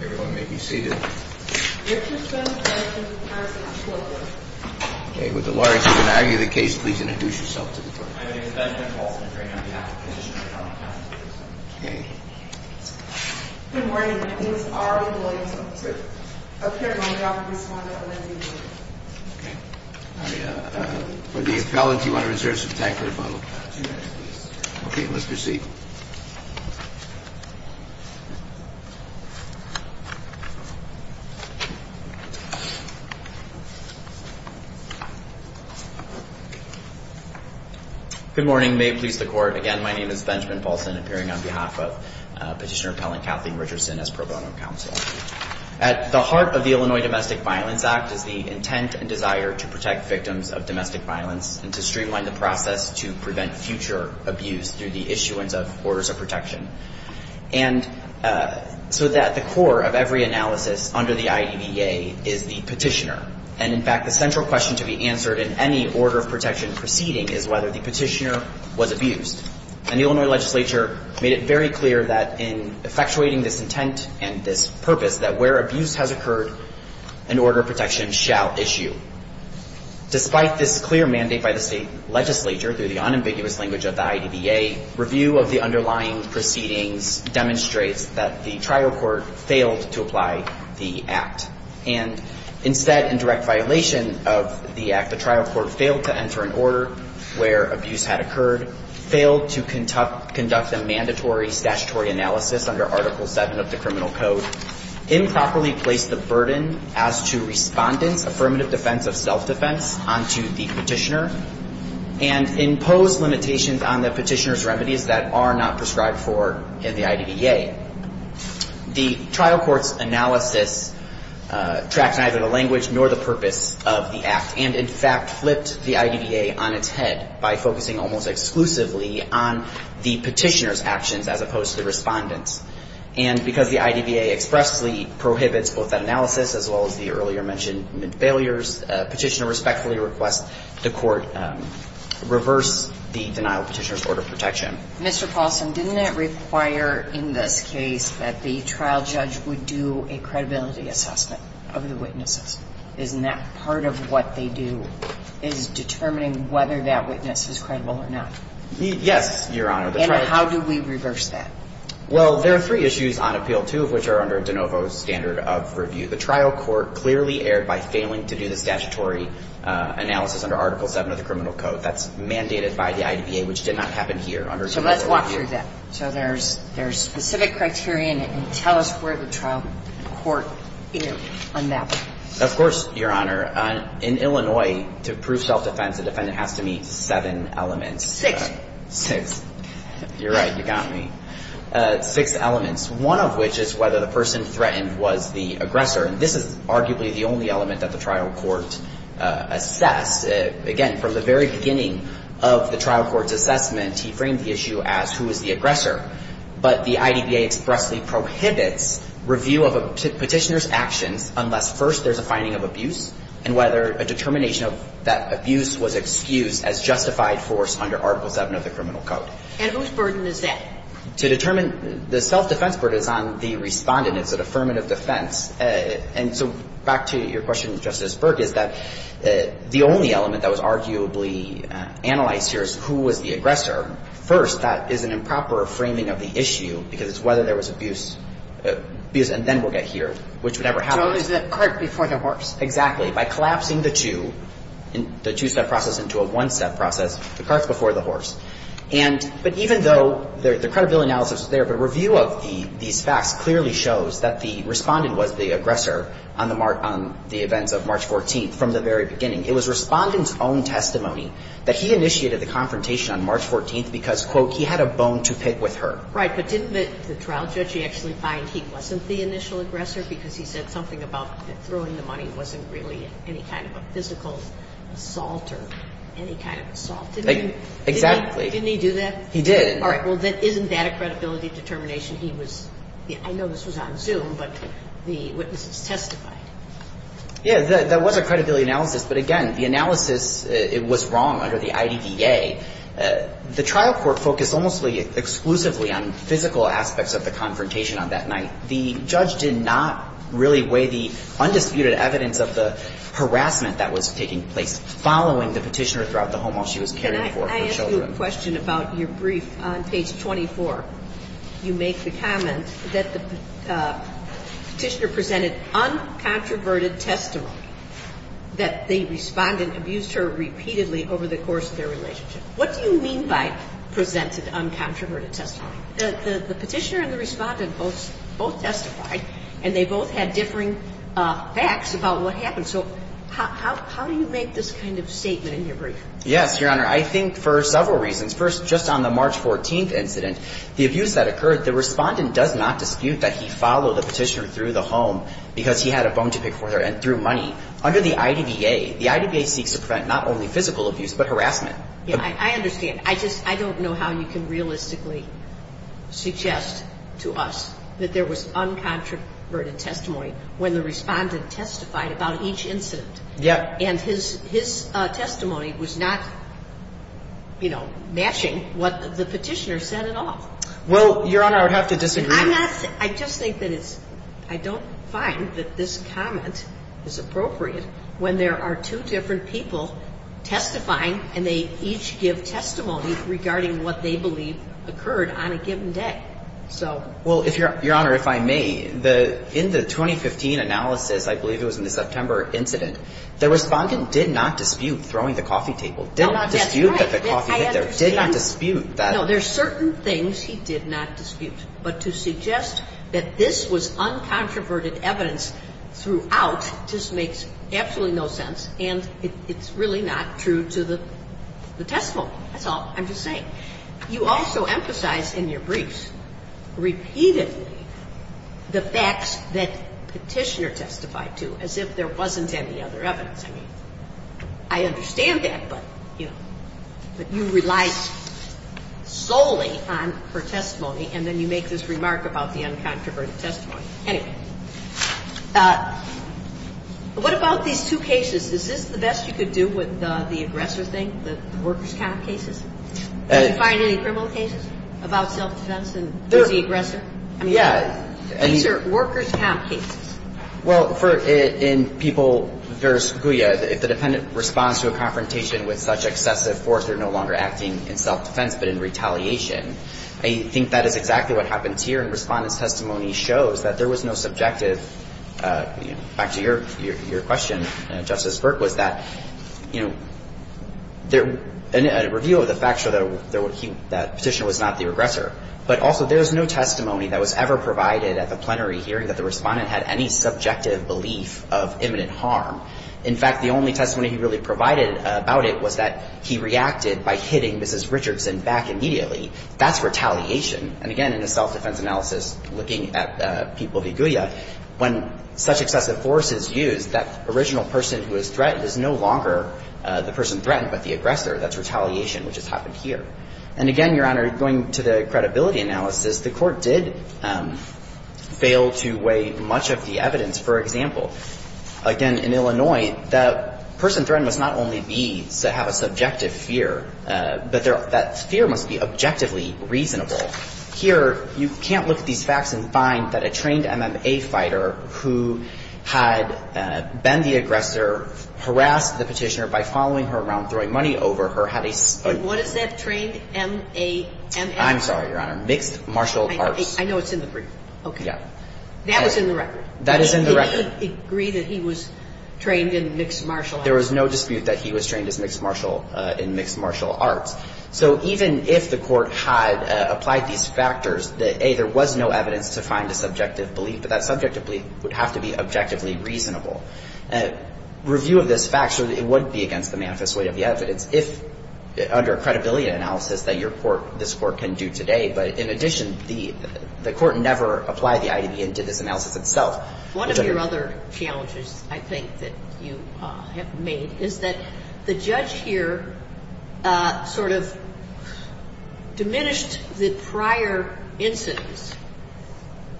Everyone may be seated. With the lawyers who can argue the case, please introduce yourself to the court. For the appellate, you want to reserve some time for rebuttal. Okay, let's proceed. Good morning. May it please the court. Again, my name is Benjamin Paulson, appearing on behalf of Petitioner Appellant Kathleen Richardson as pro bono counsel. At the heart of the Illinois Domestic Violence Act is the intent and desire to protect victims of domestic violence and to streamline the process to prevent future abuse through the issuance of orders of protection. And so that the core of every analysis under the IDVA is the petitioner. And, in fact, the central question to be answered in any order of protection proceeding is whether the petitioner was abused. And the Illinois legislature made it very clear that in effectuating this intent and this purpose, that where abuse has occurred, an order of protection shall issue. Despite this clear mandate by the state legislature, through the unambiguous language of the IDVA, review of the underlying proceedings demonstrates that the trial court failed to apply the act. And instead, in direct violation of the act, the trial court failed to enter an order where abuse had occurred, failed to conduct a mandatory statutory analysis under Article 7 of the Criminal Code, improperly placed the burden as to respondents, affirmative defense of self-defense, onto the petitioner, and imposed limitations on the petitioner's remedies that are not prescribed for in the IDVA. The trial court's analysis tracked neither the language nor the purpose of the act and, in fact, flipped the IDVA on its head by focusing almost exclusively on the petitioner's actions as opposed to the respondent's. And because the IDVA expressly prohibits both that analysis as well as the earlier-mentioned mid-failures, the petitioner respectfully requests the Court reverse the denial of the petitioner's order of protection. Mr. Paulson, didn't that require in this case that the trial judge would do a credibility assessment of the witnesses? Isn't that part of what they do, is determining whether that witness is credible or not? Yes, Your Honor. And how do we reverse that? Well, there are three issues on appeal, two of which are under De Novo's standard of review. The trial court clearly erred by failing to do the statutory analysis under Article 7 of the Criminal Code. That's mandated by the IDVA, which did not happen here under De Novo's review. So let's walk through that. So there's specific criteria, and tell us where the trial court erred on that one. Of course, Your Honor. In Illinois, to prove self-defense, the defendant has to meet seven elements. Six. Six. You're right. You got me. Six elements, one of which is whether the person threatened was the aggressor. And this is arguably the only element that the trial court assessed. Again, from the very beginning of the trial court's assessment, he framed the issue as who is the aggressor. But the IDVA expressly prohibits review of a petitioner's actions unless, first, there's a finding of abuse and whether a determination of that abuse was excused as justified force under Article 7 of the Criminal Code. And whose burden is that? To determine the self-defense burden is on the Respondent. It's an affirmative defense. And so back to your question, Justice Berg, is that the only element that was arguably analyzed here is who was the aggressor. First, that is an improper framing of the issue because it's whether there was abuse and then we'll get here, which would never happen. So it was the cart before the horse. Exactly. By collapsing the two, the two-step process into a one-step process, the cart's over. But even though the credibility analysis is there, the review of these facts clearly shows that the Respondent was the aggressor on the events of March 14th, from the very beginning. It was Respondent's own testimony that he initiated the confrontation on March 14th because, quote, he had a bone to pick with her. Right. But didn't the trial judge actually find he wasn't the initial aggressor because he said something about throwing the money wasn't really any kind of a physical assault or any kind of assault? Exactly. Didn't he do that? He did. All right. Well, isn't that a credibility determination? He was the – I know this was on Zoom, but the witnesses testified. Yeah. That was a credibility analysis. But again, the analysis, it was wrong under the IDDA. The trial court focused almost exclusively on physical aspects of the confrontation on that night. The judge did not really weigh the undisputed evidence of the harassment that was taking place following the Petitioner throughout the home while she was carrying the children. I ask you a question about your brief. On page 24, you make the comment that the Petitioner presented uncontroverted testimony that the Respondent abused her repeatedly over the course of their relationship. What do you mean by presented uncontroverted testimony? The Petitioner and the Respondent both testified, and they both had differing facts about what happened. So how do you make this kind of statement in your brief? Yes, Your Honor, I think for several reasons. First, just on the March 14th incident, the abuse that occurred, the Respondent does not dispute that he followed the Petitioner through the home because he had a bone to pick with her and threw money. Under the IDDA, the IDDA seeks to prevent not only physical abuse but harassment. Yeah, I understand. I just – I don't know how you can realistically suggest to us that there was uncontroverted testimony when the Respondent testified about each incident. Yeah. And his testimony was not, you know, matching what the Petitioner said at all. Well, Your Honor, I would have to disagree. I'm not – I just think that it's – I don't find that this comment is appropriate when there are two different people testifying and they each give testimony regarding what they believe occurred on a given day. So – Well, Your Honor, if I may, in the 2015 analysis, I believe it was in the September incident. The Respondent did not dispute throwing the coffee table, did not dispute that the coffee hit there, did not dispute that. No, there are certain things he did not dispute. But to suggest that this was uncontroverted evidence throughout just makes absolutely no sense, and it's really not true to the testimony. That's all I'm just saying. You also emphasize in your briefs repeatedly the facts that Petitioner testified to as if there wasn't any other evidence. I mean, I understand that, but, you know, you relied solely on her testimony and then you make this remark about the uncontroverted testimony. Anyway, what about these two cases? Is this the best you could do with the aggressor thing, the workers' comp cases? Do you find any criminal cases about self-defense and who's the aggressor? Yeah. I mean, these are workers' comp cases. Well, in People v. Goya, if the defendant responds to a confrontation with such excessive force, they're no longer acting in self-defense but in retaliation. I think that is exactly what happens here, and Respondent's testimony shows that there was no subjective. Back to your question, Justice Burke, was that, you know, a review of the facts showed that Petitioner was not the aggressor. But also there is no testimony that was ever provided at the plenary hearing that the Respondent had any subjective belief of imminent harm. In fact, the only testimony he really provided about it was that he reacted by hitting Mrs. Richardson back immediately. That's retaliation. And again, in the self-defense analysis looking at People v. Goya, when such excessive force is used, that original person who is threatened is no longer the person threatened but the aggressor. That's retaliation, which has happened here. And again, Your Honor, going to the credibility analysis, the Court did fail to work through much of the evidence. For example, again, in Illinois, the person threatened must not only have a subjective fear, but that fear must be objectively reasonable. Here, you can't look at these facts and find that a trained MMA fighter who had been the aggressor harassed the Petitioner by following her around throwing money over her had a ---- But what is that trained MMA fighter? I'm sorry, Your Honor. Mixed martial arts. I know it's in the brief. Okay. Yeah. That was in the record. That is in the record. Did he agree that he was trained in mixed martial arts? There was no dispute that he was trained in mixed martial arts. So even if the Court had applied these factors, that, A, there was no evidence to find a subjective belief, but that subjective belief would have to be objectively reasonable. Review of these facts, it wouldn't be against the manifest weight of the evidence if under a credibility analysis that your Court, this Court can do today. But in addition, the Court never applied the IDB and did this analysis itself. One of your other challenges, I think, that you have made is that the judge here sort of diminished the prior incidents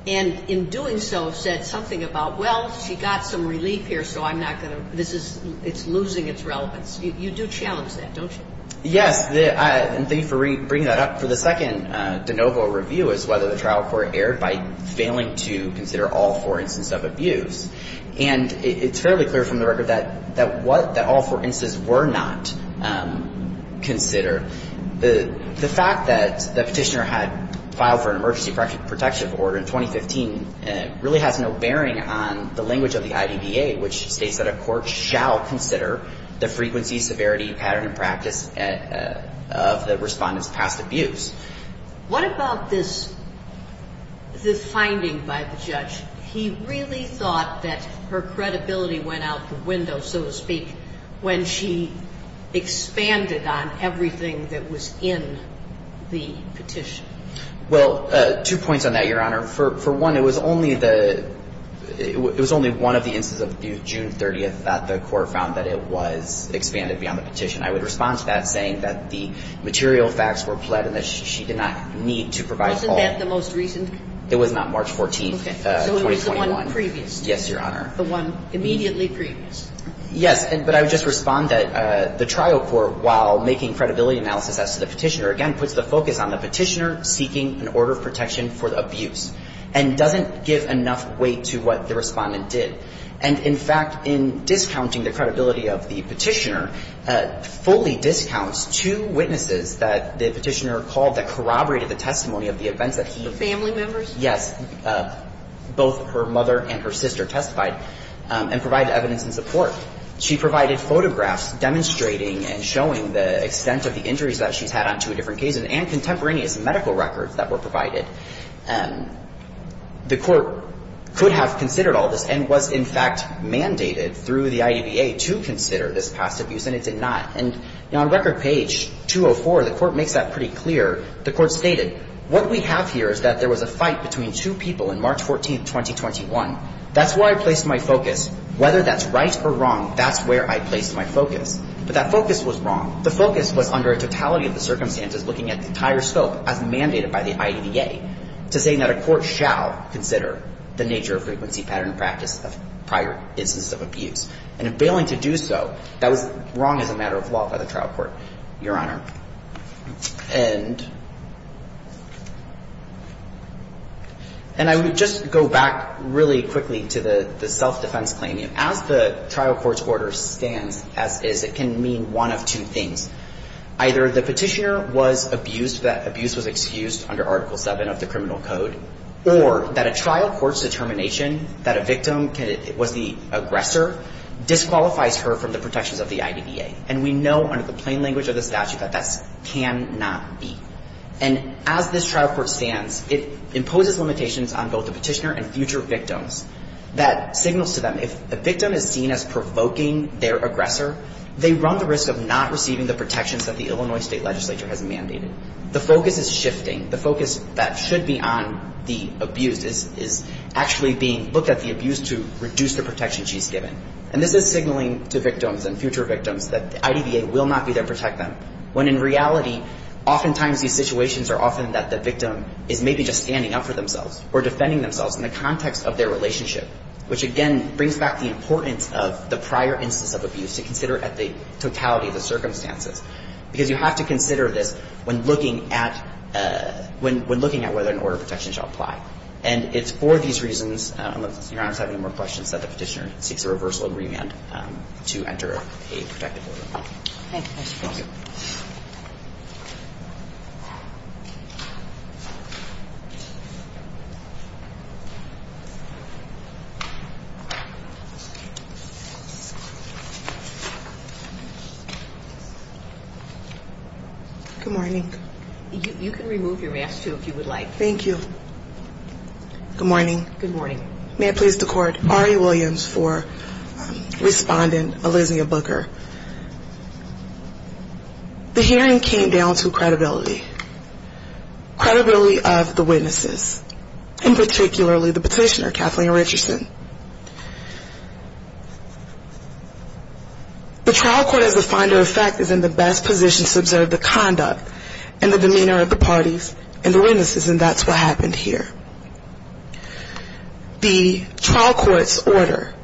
and in doing so said something about, well, she got some relief here, so I'm not going to, this is, it's losing its relevance. You do challenge that, don't you? Yes. And thank you for bringing that up. For the second de novo review is whether the trial court erred by failing to consider all four instances of abuse. And it's fairly clear from the record that what, that all four instances were not considered. The fact that the Petitioner had filed for an emergency protection order in 2015 really has no bearing on the language of the IDBA, which states that a court shall consider the frequency, severity, pattern, and practice of the Respondent's past abuse. What about this, the finding by the judge? He really thought that her credibility went out the window, so to speak, when she expanded on everything that was in the petition. Well, two points on that, Your Honor. For one, it was only the, it was only one of the instances of abuse, June 30th, that the court found that it was expanded beyond the petition. I would respond to that saying that the material facts were pled and that she did not need to provide all. Wasn't that the most recent? It was not March 14th, 2021. Okay. So it was the one previous. Yes, Your Honor. The one immediately previous. Yes. But I would just respond that the trial court, while making credibility analysis as to the Petitioner, again, puts the focus on the Petitioner seeking an order of protection for the abuse and doesn't give enough weight to what the Respondent did. And, in fact, in discounting the credibility of the Petitioner, fully discounts two witnesses that the Petitioner called that corroborated the testimony of the events that he. The family members? Yes. Both her mother and her sister testified and provided evidence in support. She provided photographs demonstrating and showing the extent of the injuries that she's had on two different cases and contemporaneous medical records that were provided. The court could have considered all this and was, in fact, mandated through the IDVA to consider this past abuse, and it did not. And on record page 204, the court makes that pretty clear. The court stated, what we have here is that there was a fight between two people on March 14th, 2021. That's where I placed my focus. Whether that's right or wrong, that's where I placed my focus. But that focus was wrong. The focus was under a totality of the circumstances looking at the entire scope as mandated by the IDVA. To say that a court shall consider the nature of frequency, pattern, and practice of prior instances of abuse. And in failing to do so, that was wrong as a matter of law by the trial court, Your Honor. And I would just go back really quickly to the self-defense claim. As the trial court's order stands as is, it can mean one of two things. Either the Petitioner was abused, that abuse was excused under Article VII of the Criminal Code, or that a trial court's determination that a victim was the aggressor disqualifies her from the protections of the IDVA. And we know under the plain language of the statute that that cannot be. And as this trial court stands, it imposes limitations on both the Petitioner and future victims. That signals to them, if a victim is seen as provoking their aggressor, they run the risk of not receiving the protections that the Illinois State Legislature has mandated. The focus is shifting. The focus that should be on the abused is actually being looked at the abused to reduce the protections she's given. And this is signaling to victims and future victims that the IDVA will not be there to protect them. When in reality, oftentimes these situations are often that the victim is maybe just standing up for themselves or defending themselves in the context of their relationship, which again brings back the importance of the prior instance of abuse to consider at the totality of the circumstances. Because you have to consider this when looking at whether an order of protection shall apply. And it's for these reasons, unless Your Honor has any more questions, that the Petitioner seeks a reversal agreement to enter a protective order. Thank you, Mr. Foster. Good morning. You can remove your mask, too, if you would like. Thank you. Good morning. Good morning. May it please the Court. Ari Williams for Respondent, Elysia Booker. The hearing came down to credibility. Credibility of the witnesses. And particularly the Petitioner, Kathleen Richardson. The trial court, as a finder of fact, is in the best position to observe the conduct and the demeanor of the parties and the witnesses, and that's what happened here. The trial court's order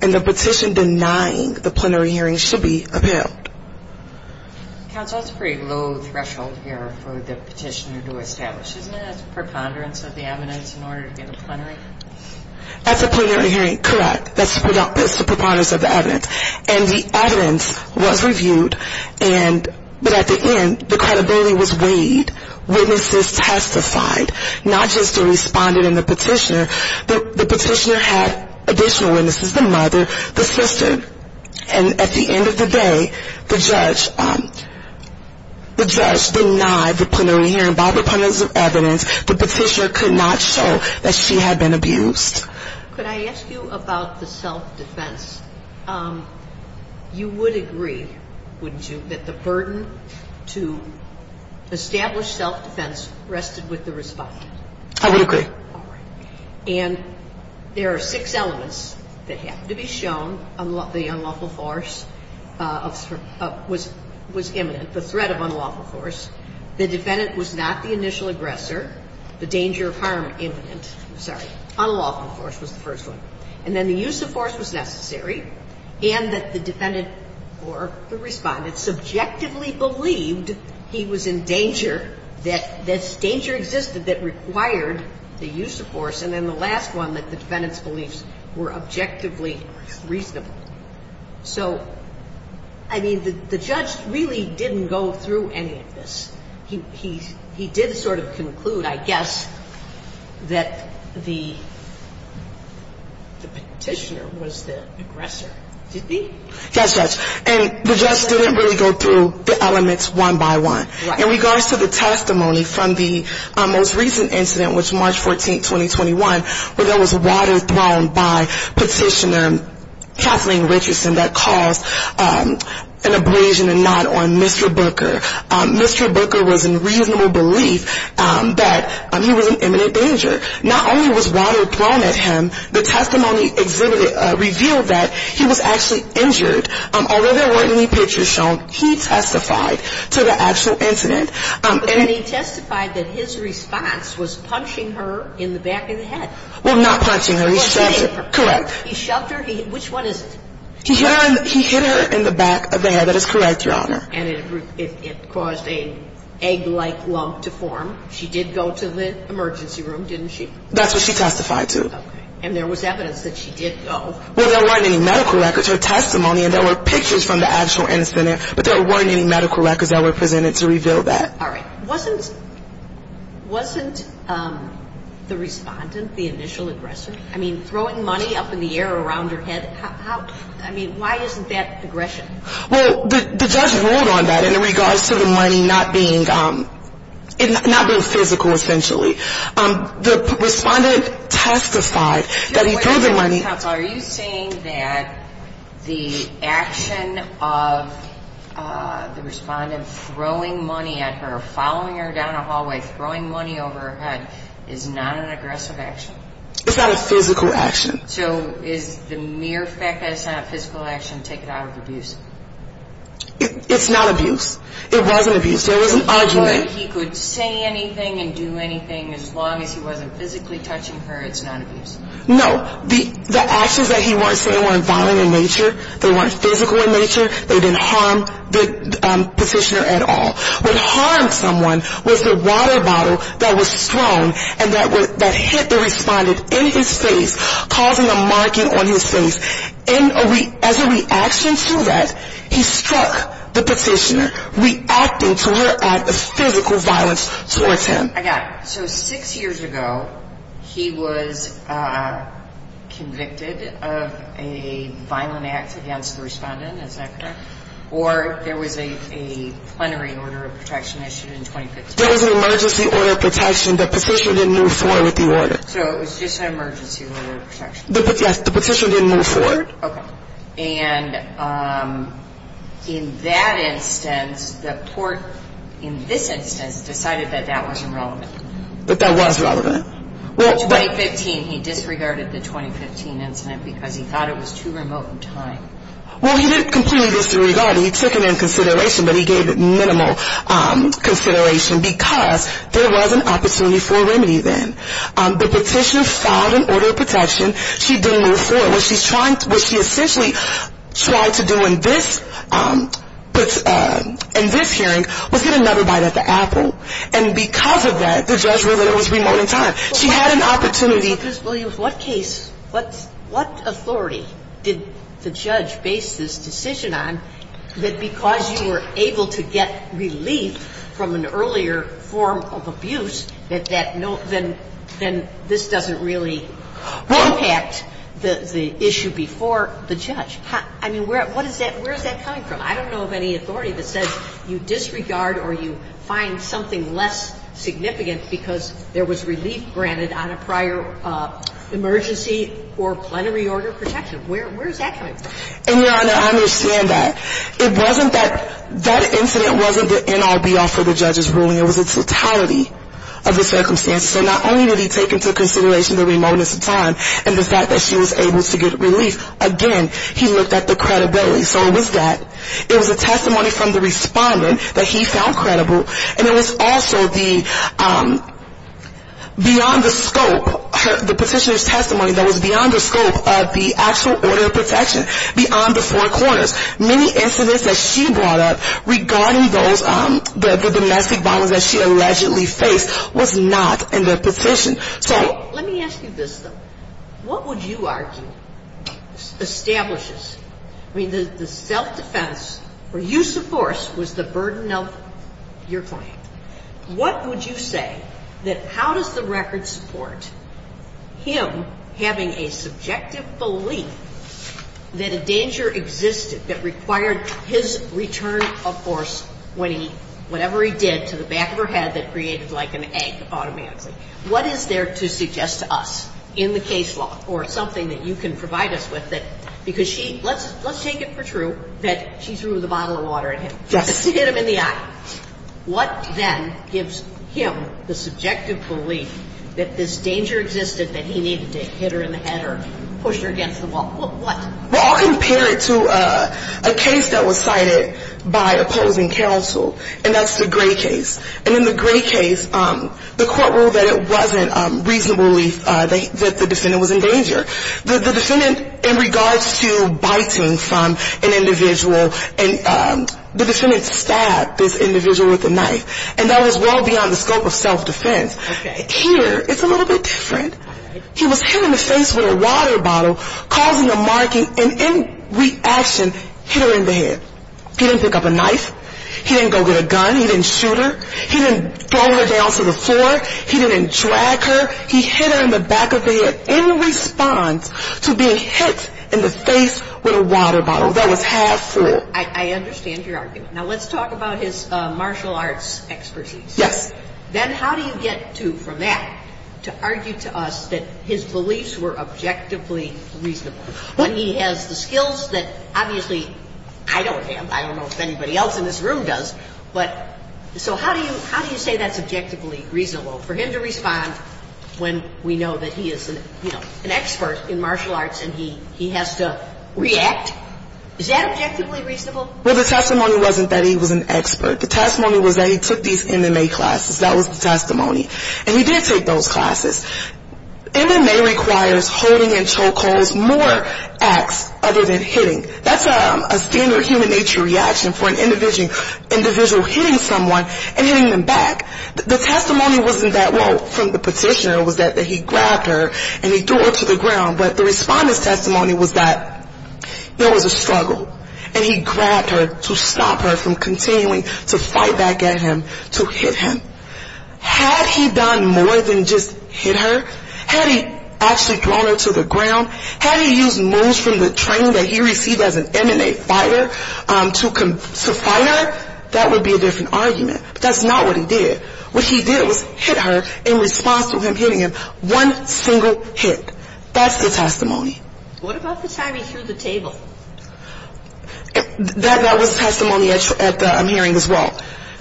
and the petition denying the plenary hearing should be upheld. Counsel, that's a pretty low threshold here for the Petitioner to establish. Isn't that a preponderance of the evidence in order to get a plenary? That's a plenary hearing, correct. That's the preponderance of the evidence. And the evidence was reviewed, but at the end, the credibility was weighed. Witnesses testified, not just the Respondent and the Petitioner. The Petitioner had additional witnesses, the mother, the sister. And at the end of the day, the judge denied the plenary hearing. By preponderance of evidence, the Petitioner could not show that she had been abused. Could I ask you about the self-defense? You would agree, wouldn't you, that the burden to establish self-defense rested with the Respondent? I would agree. All right. And there are six elements that have to be shown. The unlawful force was imminent, the threat of unlawful force. The defendant was not the initial aggressor. The danger of harm imminent. I'm sorry. Unlawful force was the first one. And then the use of force was necessary. And that the defendant or the Respondent subjectively believed he was in danger, that this danger existed that required the use of force. And then the last one, that the defendant's beliefs were objectively reasonable. So, I mean, the judge really didn't go through any of this. He did sort of conclude, I guess, that the Petitioner was the aggressor, didn't he? Yes, Judge. And the judge didn't really go through the elements one by one. Right. In regards to the testimony from the most recent incident, which was March 14, 2021, where there was water thrown by Petitioner Kathleen Richardson that caused an abrasion and not on Mr. Booker. Mr. Booker was in reasonable belief that he was in imminent danger. Not only was water thrown at him, the testimony revealed that he was actually injured. Although there weren't any pictures shown, he testified to the actual incident. And he testified that his response was punching her in the back of the head. Well, not punching her. He shoved her. Correct. He shoved her? Which one is it? He hit her in the back of the head. That is correct, Your Honor. And it caused an egg-like lump to form. She did go to the emergency room, didn't she? That's what she testified to. Okay. And there was evidence that she did go. Well, there weren't any medical records. Her testimony, and there were pictures from the actual incident, but there weren't any medical records that were presented to reveal that. All right. Wasn't the respondent the initial aggressor? I mean, throwing money up in the air around her head, I mean, why isn't that aggression? Well, the judge ruled on that in regards to the money not being physical, essentially. The respondent testified that he threw the money. Counsel, are you saying that the action of the respondent throwing money at her, following her down a hallway, throwing money over her head, is not an aggressive action? It's not a physical action. So is the mere fact that it's not a physical action to take it out of abuse? It's not abuse. It wasn't abuse. There was an argument. He could say anything and do anything as long as he wasn't physically touching her. It's not abuse. No. The actions that he was saying weren't violent in nature. They weren't physical in nature. They didn't harm the petitioner at all. What harmed someone was the water bottle that was thrown and that hit the respondent in his face, causing a marking on his face. As a reaction to that, he struck the petitioner, reacting to her act of physical violence towards him. I got it. So six years ago, he was convicted of a violent act against the respondent. Is that correct? Or there was a plenary order of protection issued in 2015. There was an emergency order of protection. The petitioner didn't move forward with the order. So it was just an emergency order of protection. Yes, the petitioner didn't move forward. Okay. And in that instance, the court in this instance decided that that wasn't relevant. That that was relevant. In 2015, he disregarded the 2015 incident because he thought it was too remote in time. Well, he didn't completely disregard it. He took it into consideration, but he gave it minimal consideration because there was an opportunity for remedy then. The petitioner filed an order of protection. She didn't move forward. What she essentially tried to do in this hearing was get another bite at the apple. And because of that, the judge ruled that it was remote in time. She had an opportunity. Ms. Williams, what case, what authority did the judge base this decision on that because you were able to get relief from an earlier form of abuse, that that no ‑‑ then this doesn't really impact the issue before the judge? I mean, where is that coming from? I don't know of any authority that says you disregard or you find something less significant because there was relief granted on a prior emergency or plenary order of protection. Where is that coming from? And, Your Honor, I understand that. It wasn't that that incident wasn't the end all, be all for the judge's ruling. It was the totality of the circumstances. So not only did he take into consideration the remoteness of time and the fact that she was able to get relief, again, he looked at the credibility. So it was that. It was a testimony from the responder that he found credible, and it was also the beyond the scope, the petitioner's testimony that was beyond the scope of the actual order of protection, beyond the four corners. Many incidents that she brought up regarding those ‑‑ the domestic violence that she allegedly faced was not in the petition. So ‑‑ Let me ask you this, though. What would you argue establishes, I mean, the self‑defense or use of force was the burden of your claim. What would you say that how does the record support him having a subjective belief that a danger existed that required his return of force when he ‑‑ whatever he did to the back of her head that created like an ache automatically? What is there to suggest to us in the case law or something that you can provide us with that because she ‑‑ let's take it for true that she threw the bottle of water at him. Yes. To hit him in the eye. What then gives him the subjective belief that this danger existed, that he needed to hit her in the head or push her against the wall? What? Well, I'll compare it to a case that was cited by opposing counsel. And that's the Gray case. And in the Gray case, the court ruled that it wasn't reasonably that the defendant was in danger. The defendant, in regards to biting from an individual, the defendant stabbed this individual with a knife. And that was well beyond the scope of self‑defense. Here, it's a little bit different. He was hit in the face with a water bottle causing a marking and in reaction hit her in the head. He didn't pick up a knife. He didn't go get a gun. He didn't shoot her. He didn't throw her down to the floor. He didn't drag her. He hit her in the back of the head in response to being hit in the face with a water bottle. That was half full. I understand your argument. Now, let's talk about his martial arts expertise. Yes. So, if he's an expert in martial arts, then how do you get to, from that, to argue to us that his beliefs were objectively reasonable? When he has the skills that obviously I don't have, I don't know if anybody else in this room does, but so how do you say that's objectively reasonable for him to respond when we know that he is, you know, an expert in martial arts and he has to react? Is that objectively reasonable? Well, the testimony wasn't that he was an expert. The testimony was that he took these MMA classes. That was the testimony. And he did take those classes. MMA requires holding and choke holds more acts other than hitting. That's a standard human nature reaction for an individual hitting someone and hitting them back. The testimony wasn't that, well, from the petitioner was that he grabbed her and he threw her to the ground, but the respondent's testimony was that there was a struggle, and he grabbed her to stop her from continuing to fight back at him, to hit him. Had he done more than just hit her? Had he actually thrown her to the ground? Had he used moves from the training that he received as an MMA fighter to fight her? That would be a different argument. But that's not what he did. What he did was hit her in response to him hitting him, one single hit. That's the testimony. What about the time he threw the table? That was testimony at the hearing as well.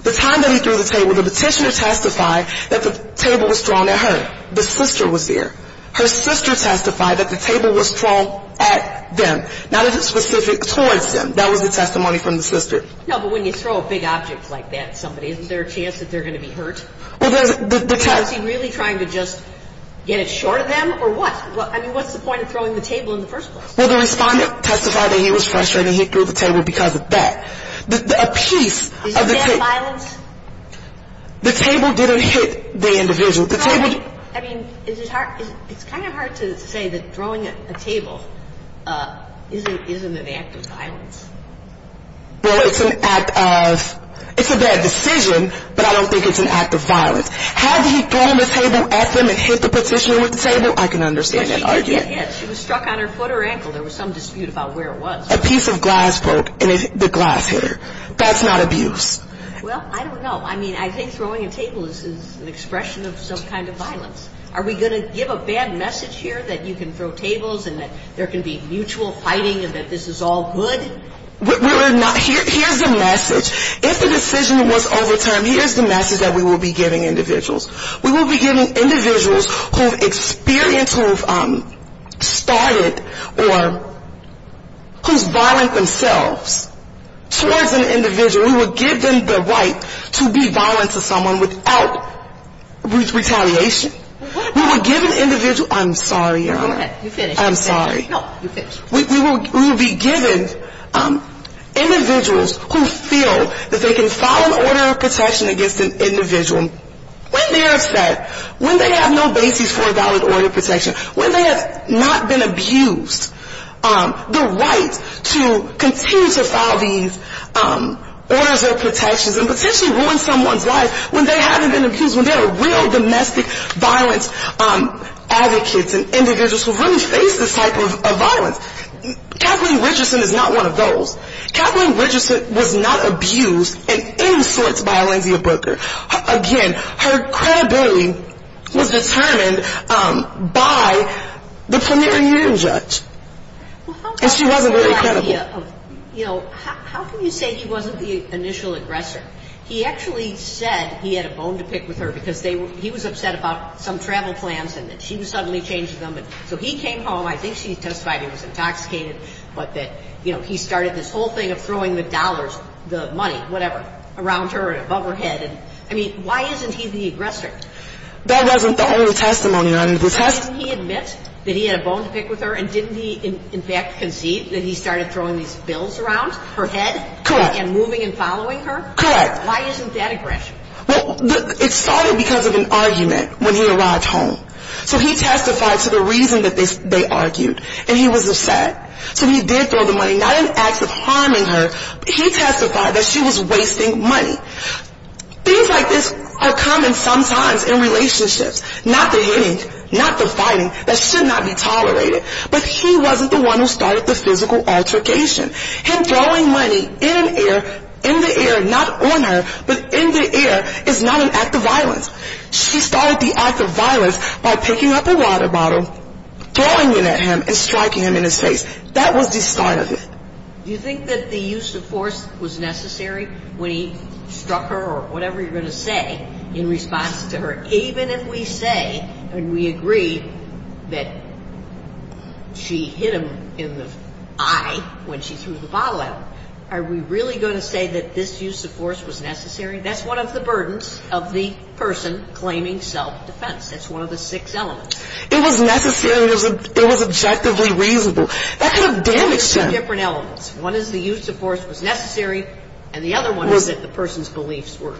The time that he threw the table, the petitioner testified that the table was thrown at her. The sister was there. Her sister testified that the table was thrown at them, not specific towards them. That was the testimony from the sister. No, but when you throw a big object like that at somebody, isn't there a chance that they're going to be hurt? Was he really trying to just get it short of them, or what? I mean, what's the point of throwing the table in the first place? Well, the respondent testified that he was frustrated he threw the table because of that. Is it bad violence? The table didn't hit the individual. It's kind of hard to say that throwing a table isn't an act of violence. Well, it's an act of ‑‑ it's a bad decision, but I don't think it's an act of violence. Had he thrown the table at them and hit the petitioner with the table, I can understand that argument. Well, she could have hit. She was struck on her foot or ankle. There was some dispute about where it was. A piece of glass broke, and the glass hit her. That's not abuse. Well, I don't know. I mean, I think throwing a table is an expression of some kind of violence. Are we going to give a bad message here that you can throw tables and that there can be mutual fighting and that this is all good? We're not ‑‑ here's the message. If the decision was overturned, here's the message that we will be giving individuals. We will be giving individuals who have experienced, who have started, or who's violent themselves towards an individual. We will give them the right to be violent to someone without retaliation. We will give an individual ‑‑ I'm sorry, Your Honor. Go ahead. You finish. I'm sorry. No, you finish. We will be giving individuals who feel that they can file an order of protection against an individual when they're upset, when they have no basis for a valid order of protection, when they have not been abused the right to continue to file these orders of protections and potentially ruin someone's life when they haven't been abused, when they're real domestic violence advocates and individuals who really face this type of violence. Kathleen Richardson is not one of those. Kathleen Richardson was not abused in any sorts by Alainzia Broeker. Again, her credibility was determined by the premier union judge. And she wasn't very credible. How can you say he wasn't the initial aggressor? He actually said he had a bone to pick with her because he was upset about some travel plans and that she was suddenly changing them. So he came home. I think she testified he was intoxicated, but that, you know, he started this whole thing of throwing the dollars, the money, whatever, around her and above her head. I mean, why isn't he the aggressor? That wasn't the only testimony, Your Honor. Didn't he admit that he had a bone to pick with her? And didn't he, in fact, conceive that he started throwing these bills around her head? Correct. And moving and following her? Correct. Why isn't that aggression? Well, it started because of an argument when he arrived home. So he testified to the reason that they argued, and he was upset. So he did throw the money, not in acts of harming her. He testified that she was wasting money. Things like this are common sometimes in relationships. Not the hitting, not the fighting. That should not be tolerated. But he wasn't the one who started the physical altercation. Him throwing money in the air, not on her, but in the air, is not an act of violence. She started the act of violence by picking up a water bottle, throwing it at him, and striking him in his face. That was the start of it. Do you think that the use of force was necessary when he struck her or whatever you're going to say in response to her? Even if we say and we agree that she hit him in the eye when she threw the bottle at him, are we really going to say that this use of force was necessary? That's one of the burdens of the person claiming self-defense. That's one of the six elements. It was necessary and it was objectively reasonable. That could have damaged him. There's two different elements. One is the use of force was necessary, and the other one is that the person's beliefs were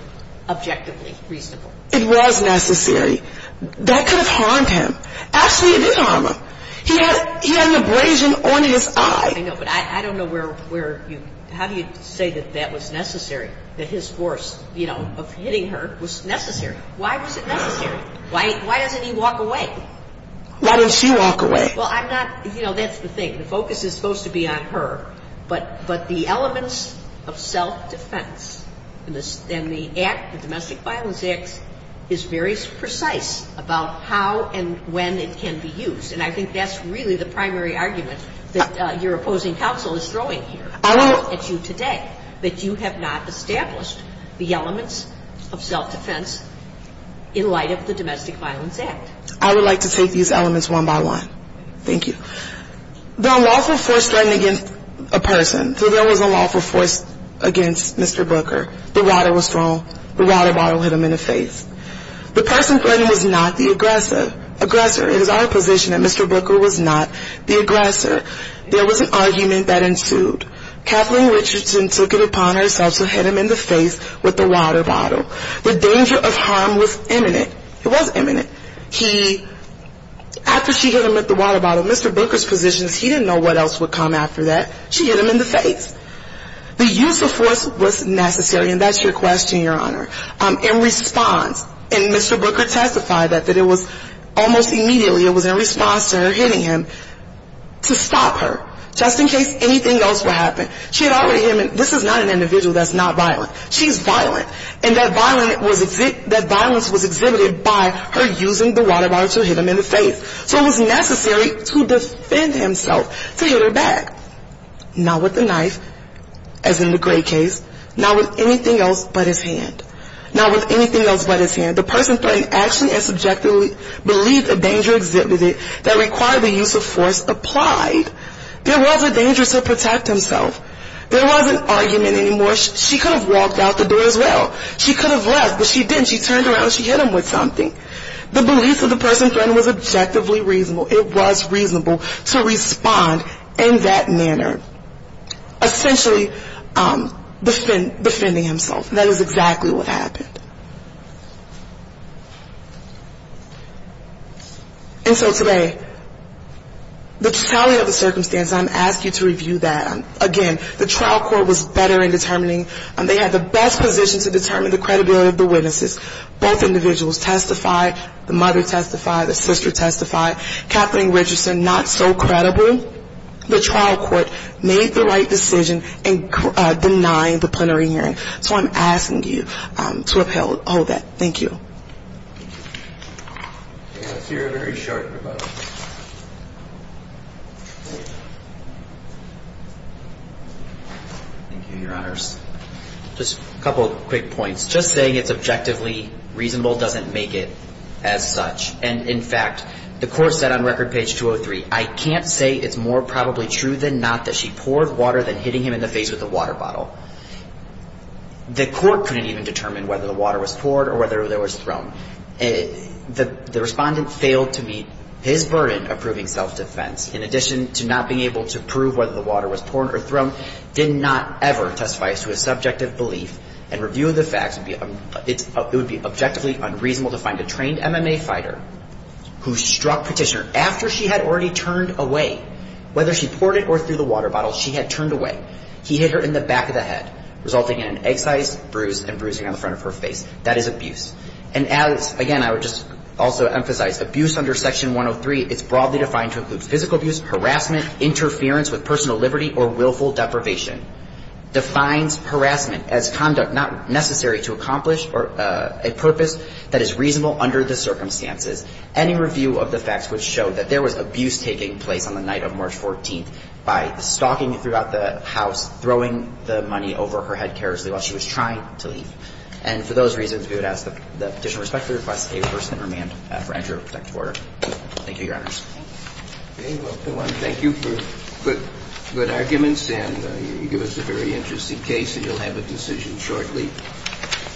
objectively reasonable. It was necessary. That could have harmed him. Actually, it did harm him. He had an abrasion on his eye. I know, but I don't know where you – how do you say that that was necessary, that his force, you know, of hitting her was necessary? Why was it necessary? Why doesn't he walk away? Why didn't she walk away? Well, I'm not – you know, that's the thing. The focus is supposed to be on her. But the elements of self-defense in the Act, the Domestic Violence Act, is very precise about how and when it can be used. And I think that's really the primary argument that your opposing counsel is throwing here at you today, that you have not established the elements of self-defense in light of the Domestic Violence Act. I would like to take these elements one by one. Thank you. The unlawful force threatened against a person. So there was unlawful force against Mr. Booker. The water was thrown. The water bottle hit him in the face. The person threatened was not the aggressor. It is our position that Mr. Booker was not the aggressor. There was an argument that ensued. Kathleen Richardson took it upon herself to hit him in the face with the water bottle. The danger of harm was imminent. It was imminent. After she hit him with the water bottle, Mr. Booker's position is he didn't know what else would come after that. She hit him in the face. The use of force was necessary. And that's your question, Your Honor. In response, and Mr. Booker testified that it was almost immediately, it was in response to her hitting him, to stop her. Just in case anything else would happen. She had already hit him. This is not an individual that's not violent. She's violent. And that violence was exhibited by her using the water bottle to hit him in the face. So it was necessary to defend himself, to hit her back. Not with the knife, as in the Gray case. Not with anything else but his hand. Not with anything else but his hand. The person threatened action and subjectively believed the danger exhibited that required the use of force applied. There was a danger to protect himself. There wasn't argument anymore. She could have walked out the door as well. She could have left, but she didn't. She turned around and she hit him with something. The beliefs of the person threatened was objectively reasonable. It was reasonable to respond in that manner. Essentially defending himself. That is exactly what happened. And so today, the tally of the circumstances, I'm asking you to review that. Again, the trial court was better in determining. They had the best position to determine the credibility of the witnesses. Both individuals testified. The mother testified. The sister testified. Kathleen Richardson, not so credible. The trial court made the right decision in denying the plenary hearing. So I'm asking you to uphold that. Thank you. Thank you, Your Honors. Just a couple of quick points. Just saying it's objectively reasonable doesn't make it as such. And, in fact, the court said on record page 203, I can't say it's more probably true than not that she poured water than hitting him in the face with a water bottle. The court couldn't even determine whether the water was poured or whether there was blood on the surface. The respondent failed to meet his burden of proving self-defense. In addition to not being able to prove whether the water was poured or thrown, did not ever testify to a subjective belief and review of the facts. It would be objectively unreasonable to find a trained MMA fighter who struck Petitioner after she had already turned away. Whether she poured it or threw the water bottle, she had turned away. He hit her in the back of the head, resulting in an egg-sized bruise and bruising on the front of her face. That is abuse. And as, again, I would just also emphasize, abuse under Section 103 is broadly defined to include physical abuse, harassment, interference with personal liberty, or willful deprivation. Defines harassment as conduct not necessary to accomplish or a purpose that is reasonable under the circumstances. Any review of the facts would show that there was abuse taking place on the night of March 14th by stalking throughout the house, throwing the money over her head carelessly while she was trying to leave. And for those reasons, we would ask that the petitioner respect the request of a person in remand for entry of a protective order. Thank you, Your Honors. Okay, well, everyone, thank you for good arguments, and you give us a very interesting case, and you'll have a decision shortly.